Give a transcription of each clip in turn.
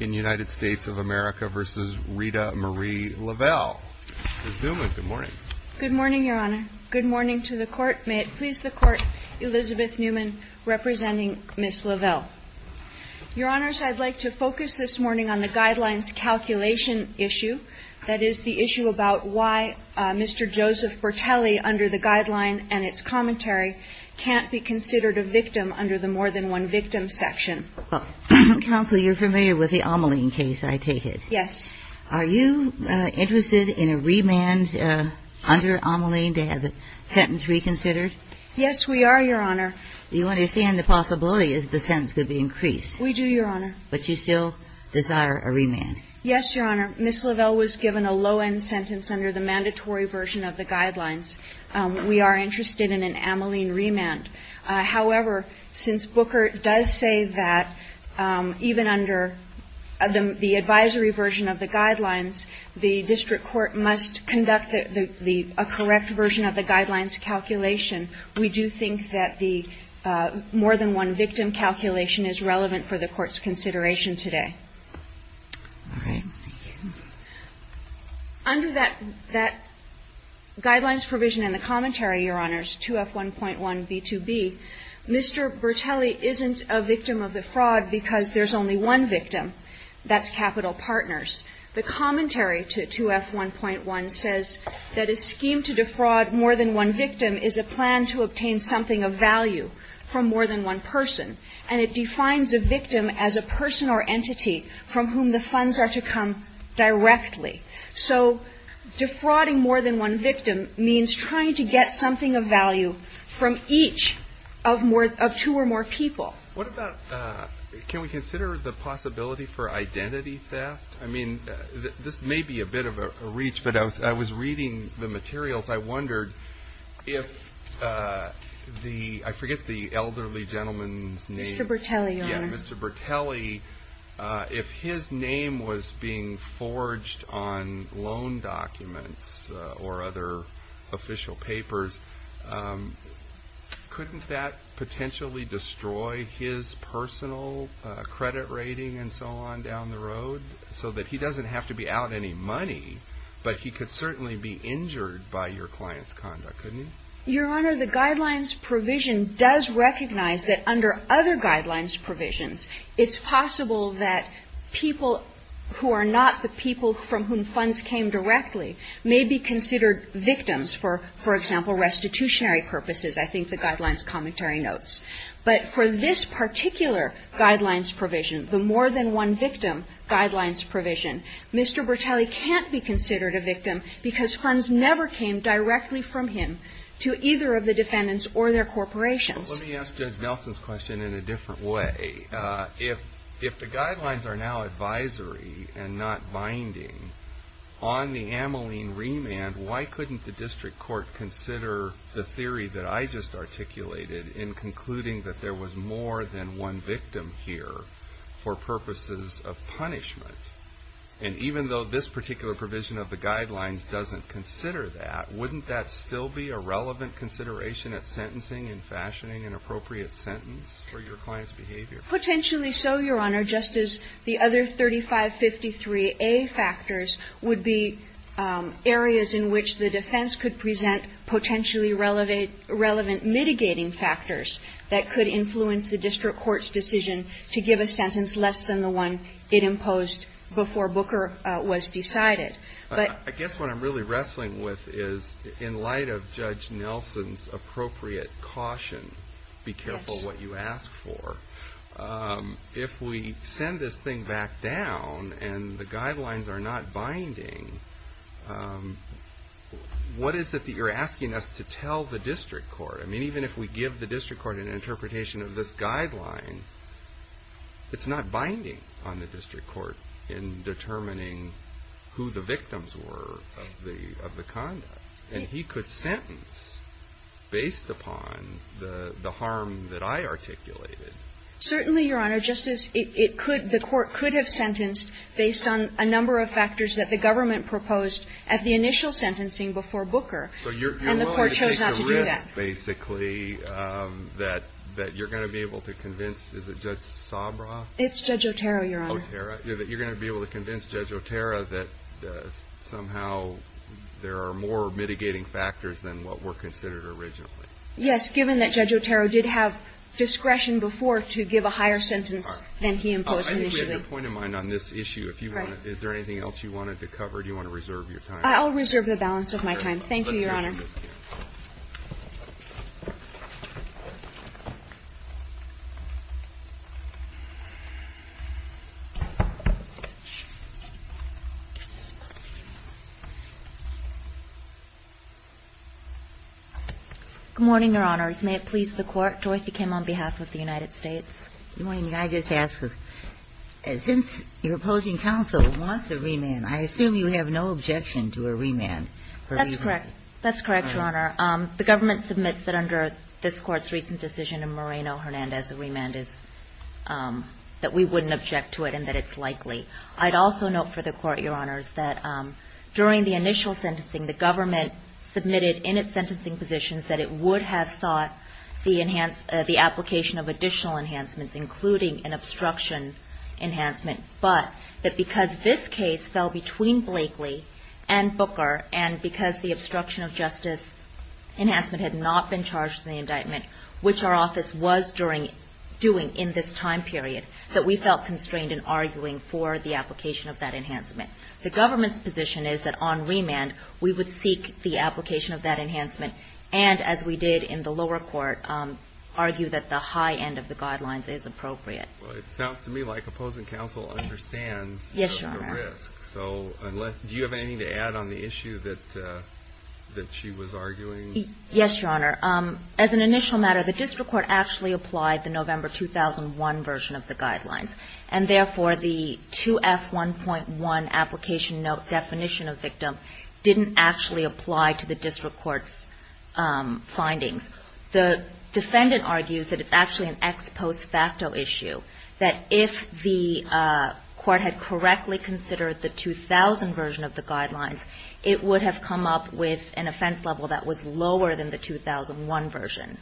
Ms. Newman, good morning. Good morning, Your Honor. Good morning to the Court. May it please the Court, Elizabeth Newman, representing Ms. Lavelle. Your Honors, I'd like to focus this morning on the Guidelines Calculation issue, that is, the issue about why Mr. Joseph Bertelli, under the Guideline and its commentary, can't be considered a victim under the More Than One Victim section. Counsel, you're familiar with the Ameline case, I take it? Yes. Are you interested in a remand under Ameline to have the sentence reconsidered? Yes, we are, Your Honor. You understand the possibility is the sentence could be increased? We do, Your Honor. But you still desire a remand? Yes, Your Honor. Ms. Lavelle was given a low-end sentence under the mandatory version of the Guidelines. We are interested in an Ameline remand. However, since Booker does say that even under the advisory version of the Guidelines, the district court must conduct the – a correct version of the Guidelines calculation, we do think that the More Than One Victim calculation is relevant for the Court's consideration today. All right. Under that – that Guidelines provision in the commentary, Your Honors, 2F1.1b2b, Mr. Bertelli isn't a victim of the fraud because there's only one victim. That's Capital Partners. The commentary to 2F1.1 says that a scheme to defraud more than one victim is a plan to obtain something of value from more than one person. And it defines a victim as a person or entity from whom the funds are to come directly. So defrauding more than one victim means trying to get something of value from each of more – of two or more people. What about – can we consider the possibility for identity theft? I mean, this may be a bit of a reach, but I was reading the materials. I wondered if the – I forget the elderly gentleman's name. Mr. Bertelli, Your Honor. Yeah, Mr. Bertelli. If his name was being forged on loan documents or other official papers, couldn't that potentially destroy his personal credit rating and so on down the road? So that he doesn't have to be out any money, but he could certainly be injured by your client's conduct, couldn't he? Your Honor, the Guidelines provision does recognize that under other Guidelines provisions, it's possible that people who are not the people from whom funds came directly may be considered victims for, for example, restitutionary purposes, I think the Guidelines commentary notes. But for this particular Guidelines provision, the more than one victim Guidelines provision, Mr. Bertelli can't be considered a victim because funds never came directly from him to either of the defendants or their corporations. Let me ask Judge Nelson's question in a different way. If the Guidelines are now advisory and not binding, on the Ameline remand, why couldn't the district court consider the theory that I just articulated in concluding that there was more than one victim here for purposes of punishment? And even though this particular provision of the Guidelines doesn't consider that, wouldn't that still be a relevant consideration at sentencing and fashioning an appropriate sentence for your client's behavior? Potentially so, Your Honor, just as the other 3553A factors would be areas in which the defense could present potentially relevant mitigating factors that could influence the district court's decision to give a sentence less than the one it imposed before Booker was decided. But I guess what I'm really wrestling with is, in light of Judge Nelson's appropriate caution, be careful what you ask for. If we send this thing back down and the Guidelines are not binding, what is it that you're asking us to tell the district court? I mean, even if we give the district court an interpretation of this Guideline, it's not binding on the district court in determining who the victims were of the conduct. And he could sentence based upon the harm that I articulated. Certainly, Your Honor. Just as it could, the court could have sentenced based on a number of factors that the government proposed at the initial sentencing before Booker. And the court chose not to do that. So you're willing to take the risk, basically, that you're going to be able to convince, is it Judge Sabra? It's Judge Otero, Your Honor. Otero. You're going to be able to convince Judge Otero that somehow there are more mitigating factors than what were considered originally? Yes, given that Judge Otero did have discretion before to give a higher sentence than he imposed initially. I think we had a good point of mind on this issue. Is there anything else you wanted to cover? Do you want to reserve your time? I'll reserve the balance of my time. Thank you, Your Honor. Good morning, Your Honors. May it please the Court. Dorothy Kim on behalf of the United States. Good morning. May I just ask, since your opposing counsel wants a remand, I assume you have no objection to a remand? That's correct. That's correct, Your Honor. The government submits that under this Court's recent decision in Moreno-Hernandez, a remand is that we wouldn't object to it and that it's likely. I'd also note for the Court, Your Honors, that during the initial sentencing, the government submitted in its sentencing positions that it would have sought the application of additional enhancements, including an obstruction enhancement, but that because this case fell between Blakely and Booker, and because the obstruction of justice enhancement had not been charged in the indictment, which our office was doing in this time period, that we felt constrained in arguing for the application of that enhancement. The government's position is that on remand, we would seek the application of that enhancement and, as we did in the lower court, argue that the high end of the guidelines is appropriate. Well, it sounds to me like opposing counsel understands the risk. Yes, Your Honor. So do you have anything to add on the issue that she was arguing? Yes, Your Honor. As an initial matter, the district court actually applied the November 2001 version of the guidelines, and therefore the 2F1.1 application note definition of victim didn't actually apply to the district court's findings. The defendant argues that it's actually an ex post facto issue, that if the court had correctly considered the 2000 version of the guidelines, it would have come up with an offense level that was lower than the 2001 version.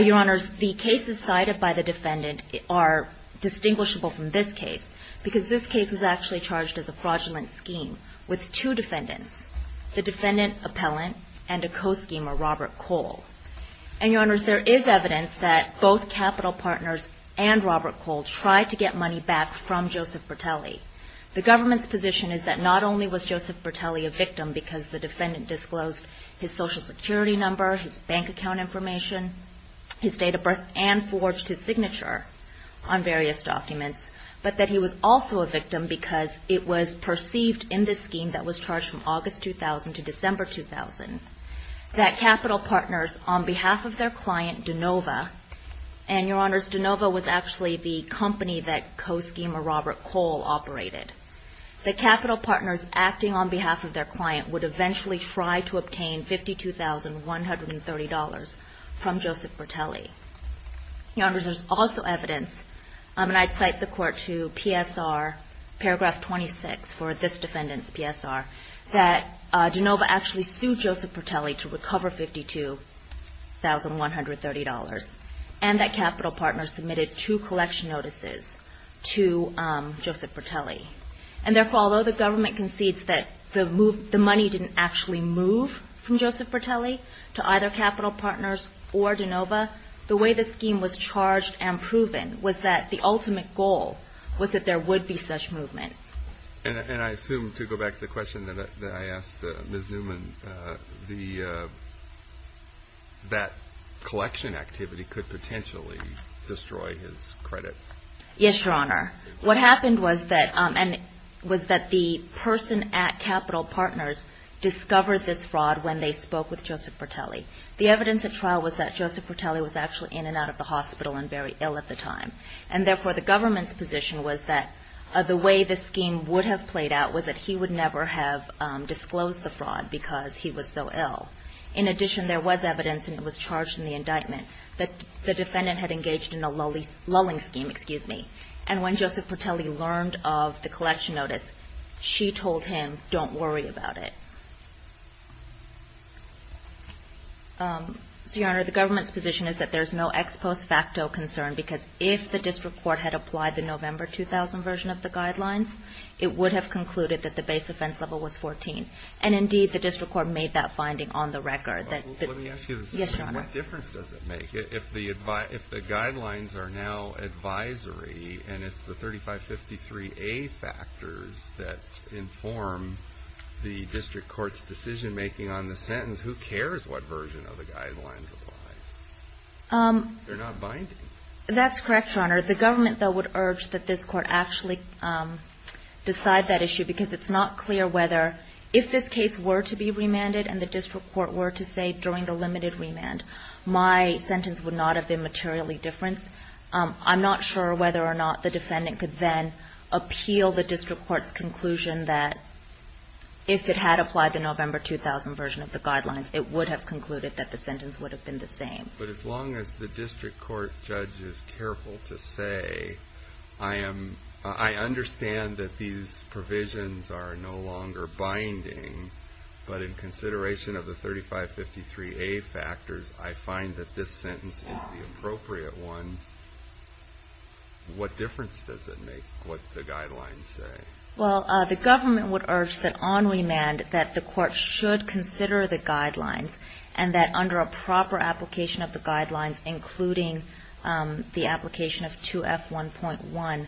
Your Honors, the cases cited by the defendant are distinguishable from this case, because this case was actually charged as a fraudulent scheme with two defendants, the defendant appellant and a co-schemer, Robert Cole. And, Your Honors, there is evidence that both capital partners and Robert Cole tried to get money back from Joseph Bertelli. The government's position is that not only was Joseph Bertelli a victim because the defendant disclosed his Social Security number, his bank account information, his date of birth, and forged his signature on various documents, but that he was also a victim because it was perceived in this scheme that was charged from August 2000 to December 2000, that capital partners, on behalf of their client, DeNova, and Your Honors, DeNova was actually the company that co-schemer Robert Cole operated, that capital partners acting on behalf of their client would eventually try to obtain $52,130 from Joseph Bertelli. Your Honors, there's also evidence, and I'd cite the Court to PSR, paragraph 26 for this defendant's PSR, that DeNova actually sued Joseph Bertelli to recover $52,130, and that capital partners submitted two collection notices to Joseph Bertelli. And therefore, although the government concedes that the money didn't actually move from Joseph Bertelli to either capital partners or DeNova, the way the scheme was charged and proven was that the ultimate goal was that there would be such movement. And I assume, to go back to the question that I asked Ms. Newman, that collection activity could potentially destroy his credit. Yes, Your Honor. What happened was that the person at capital partners discovered this fraud when they spoke with Joseph Bertelli. The evidence at trial was that Joseph Bertelli was actually in and out of the hospital and very ill at the time. And therefore, the government's position was that the way this scheme would have played out was that he would never have disclosed the fraud because he was so ill. In addition, there was evidence, and it was charged in the indictment, that the defendant had engaged in a lulling scheme. And when Joseph Bertelli learned of the collection notice, she told him, don't worry about it. So, Your Honor, the government's position is that there's no ex post facto concern because if the district court had applied the November 2000 version of the guidelines, it would have concluded that the base offense level was 14. And indeed, the district court made that finding on the record. Let me ask you this. Yes, Your Honor. What difference does it make if the guidelines are now advisory and it's the 3553A factors that inform the district court's decision making on the sentence? Who cares what version of the guidelines apply? They're not binding. That's correct, Your Honor. The government, though, would urge that this court actually decide that issue because it's not clear whether if this case were to be remanded and the district court were to say during the limited remand, my sentence would not have been materially differenced. I'm not sure whether or not the defendant could then appeal the district court's conclusion that if it had applied the November 2000 version of the guidelines, it would have concluded that the sentence would have been the same. But as long as the district court judge is careful to say, I understand that these provisions are no longer binding, but in consideration of the 3553A factors, I find that this sentence is the appropriate one, what difference does it make what the guidelines say? Well, the government would urge that on remand that the court should consider the guidelines and that under a proper application of the guidelines, including the application of 2F1.1,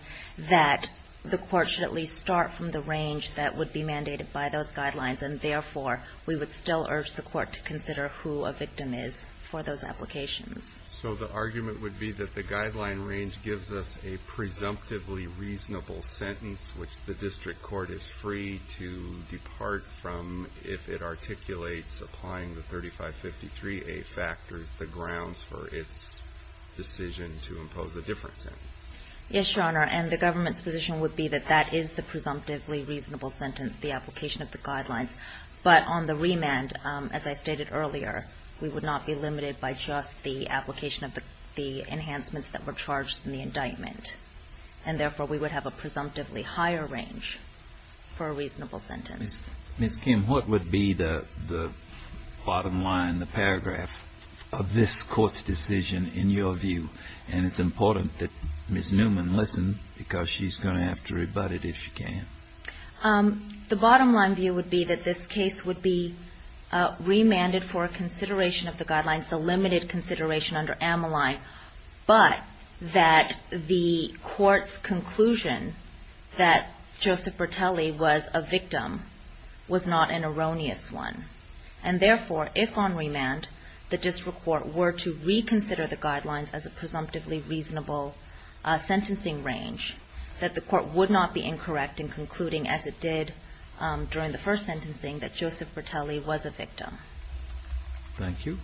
that the court should at least start from the range that would be mandated by those guidelines. And therefore, we would still urge the court to consider who a victim is for those applications. So the argument would be that the guideline range gives us a presumptively reasonable sentence which the district court is free to depart from if it articulates applying the 3553A factors, the grounds for its decision to impose a different sentence. Yes, Your Honor. And the government's position would be that that is the presumptively reasonable sentence, the application of the guidelines. But on the remand, as I stated earlier, we would not be limited by just the application of the enhancements that were charged in the indictment. And therefore, we would have a presumptively higher range for a reasonable sentence. Ms. Kim, what would be the bottom line, the paragraph of this Court's decision in your view? And it's important that Ms. Newman listen because she's going to have to rebut it if she can. The bottom line view would be that this case would be remanded for consideration of the guidelines, the limited consideration under Ammoline, but that the Court's conclusion that Joseph Bertelli was a victim was not an erroneous one. And therefore, if on remand the district court were to reconsider the guidelines as a presumptively reasonable sentencing range, that the court would not be incorrect in concluding as it did during the first sentencing that Joseph Bertelli was a victim. Thank you.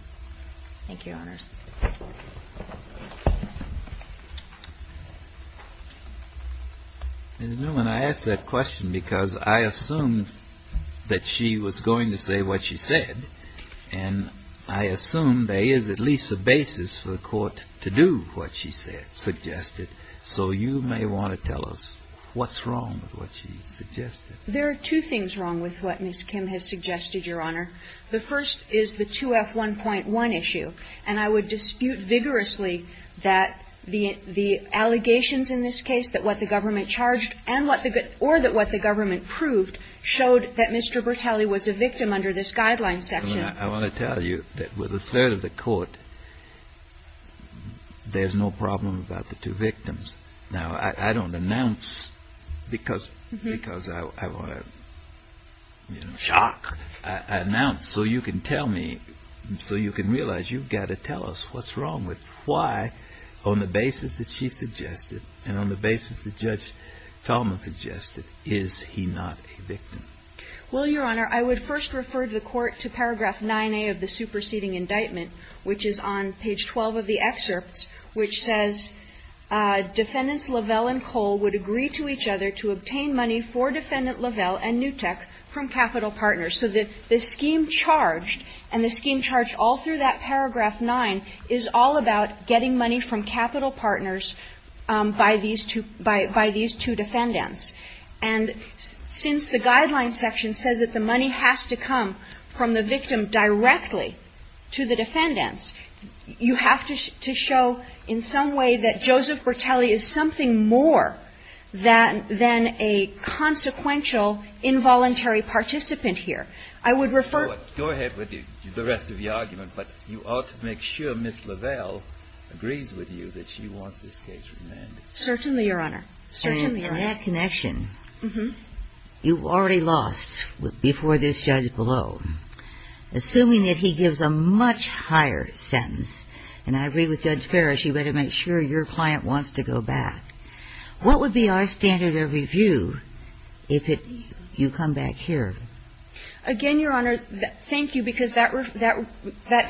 Thank you, Your Honors. Ms. Newman, I ask that question because I assumed that she was going to say what she said. And I assume there is at least a basis for the Court to do what she said, suggested. So you may want to tell us what's wrong with what she suggested. There are two things wrong with what Ms. Kim has suggested, Your Honor. The first is the 2F1.1 issue. And I would dispute vigorously that the allegations in this case, that what the government proved, showed that Mr. Bertelli was a victim under this guideline section. I want to tell you that with a third of the Court, there's no problem about the two victims. Now, I don't announce because I want to, you know, shock. I announce so you can tell me, so you can realize you've got to tell us what's wrong with why, on the basis that she suggested and on the basis that Judge Talmadge suggested, is he not a victim? Well, Your Honor, I would first refer to the Court to paragraph 9A of the superseding indictment, which is on page 12 of the excerpts, which says, Defendants Lavelle and Cole would agree to each other to obtain money for Defendant Lavelle and Newtek from capital partners. So the scheme charged and the scheme charged all through that paragraph 9 is all about getting money from capital partners by these two defendants. And since the guideline section says that the money has to come from the victim directly to the defendants, you have to show in some way that Joseph Bertelli is something more than a consequential involuntary participant here. I would refer to the rest of the argument. But you ought to make sure Ms. Lavelle agrees with you that she wants this case remanded. Certainly, Your Honor. Certainly, Your Honor. And in that connection, you've already lost before this judge below. Assuming that he gives a much higher sentence, and I agree with Judge Ferris, you better make sure your client wants to go back. What would be our standard of review if you come back here? Again, Your Honor, thank you, because that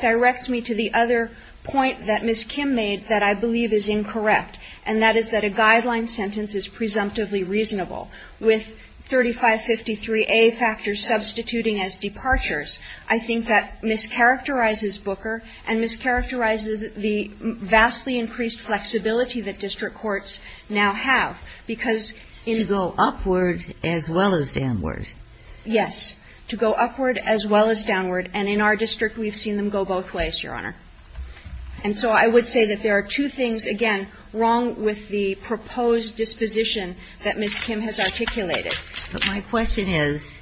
directs me to the other point that Ms. Kim made that I believe is incorrect, and that is that a guideline sentence is presumptively reasonable. With 3553A factors substituting as departures, I think that mischaracterizes Booker and mischaracterizes the vastly increased flexibility that district courts now have, because in the ---- To go upward as well as downward. Yes. To go upward as well as downward. And in our district, we've seen them go both ways, Your Honor. And so I would say that there are two things, again, wrong with the proposed disposition that Ms. Kim has articulated. But my question is,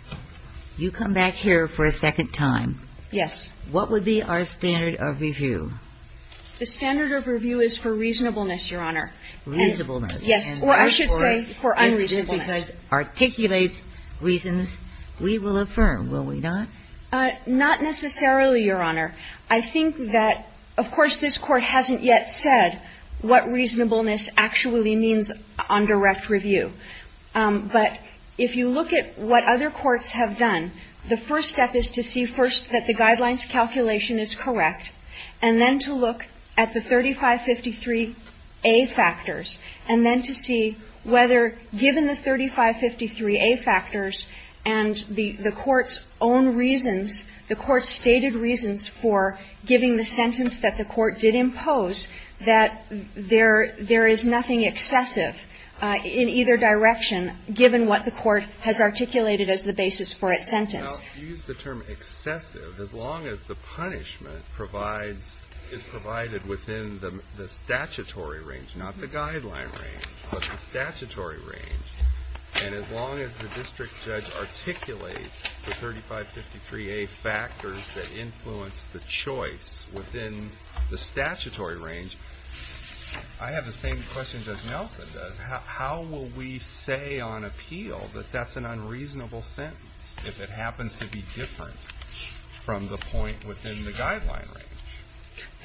you come back here for a second time. Yes. What would be our standard of review? The standard of review is for reasonableness, Your Honor. Reasonableness. Yes. Or I should say for unreasonableness. Unreasonableness because it articulates reasons we will affirm, will we not? Not necessarily, Your Honor. I think that, of course, this Court hasn't yet said what reasonableness actually means on direct review. But if you look at what other courts have done, the first step is to see first that the guidelines calculation is correct, and then to look at the 3553A factors, and then to see whether, given the 3553A factors and the court's own reasons, the court's stated reasons for giving the sentence that the court did impose, that there is nothing excessive in either direction, given what the court has articulated as the basis for its sentence. Now, if you use the term excessive, as long as the punishment provides, is provided within the statutory range, not the guideline range, but the statutory range, and as long as the district judge articulates the 3553A factors that influence the choice within the statutory range, I have the same question that Nelson does. How will we say on appeal that that's an unreasonable sentence if it happens to be different from the point within the guideline range?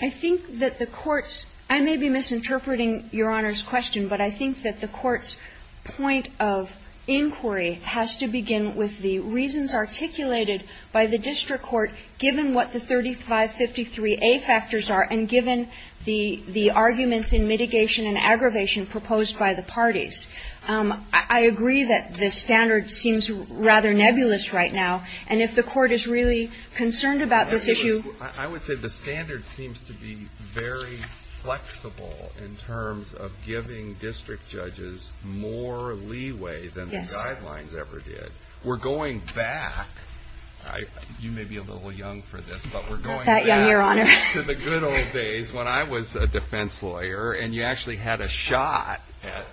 I think that the court's – I may be misinterpreting Your Honor's question, but I think that the court's point of inquiry has to begin with the reasons articulated by the district court given what the 3553A factors are and given the arguments in mitigation and aggravation proposed by the parties. I agree that the standard seems rather nebulous right now. And if the court is really concerned about this issue – I would say the standard seems to be very flexible in terms of giving district judges more leeway than the guidelines ever did. We're going back – you may be a little young for this, but we're going back – That young, Your Honor. To the good old days when I was a defense lawyer, and you actually had a shot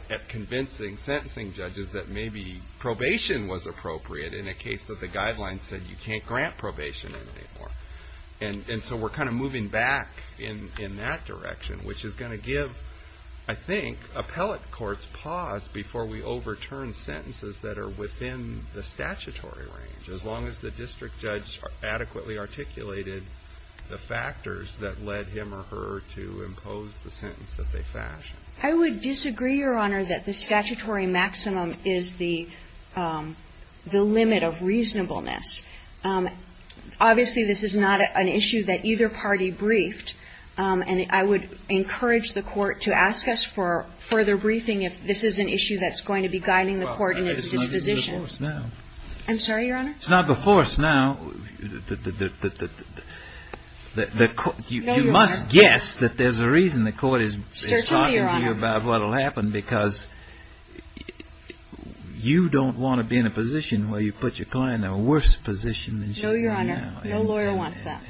at convincing sentencing judges that maybe probation was appropriate in a case that the guidelines said you can't grant probation anymore. And so we're kind of moving back in that direction, which is going to give, I think, appellate courts pause before we overturn sentences that are within the statutory range, as long as the district judge adequately articulated the factors that led him or her to impose the sentence that they fashioned. I would disagree, Your Honor, that the statutory maximum is the limit of reasonableness. Obviously, this is not an issue that either party briefed, and I would encourage the Court to ask us for further briefing if this is an issue that's going to be guiding the Court in its disposition. I'm sorry, Your Honor? It's not before us now that the – you must guess that there's a reason the Court is talking to you about what will happen because you don't want to be in a position where you put your client in a worse position than she's in now. No, Your Honor. No lawyer wants that.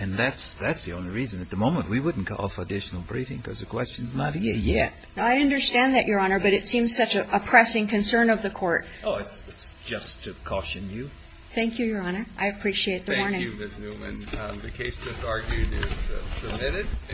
And that's the only reason. At the moment, we wouldn't call for additional briefing because the question's not here yet. I understand that, Your Honor, but it seems such a pressing concern of the Court. Oh, it's just to caution you. Thank you, Your Honor. I appreciate the warning. Thank you, Ms. Newman. The case just argued is submitted.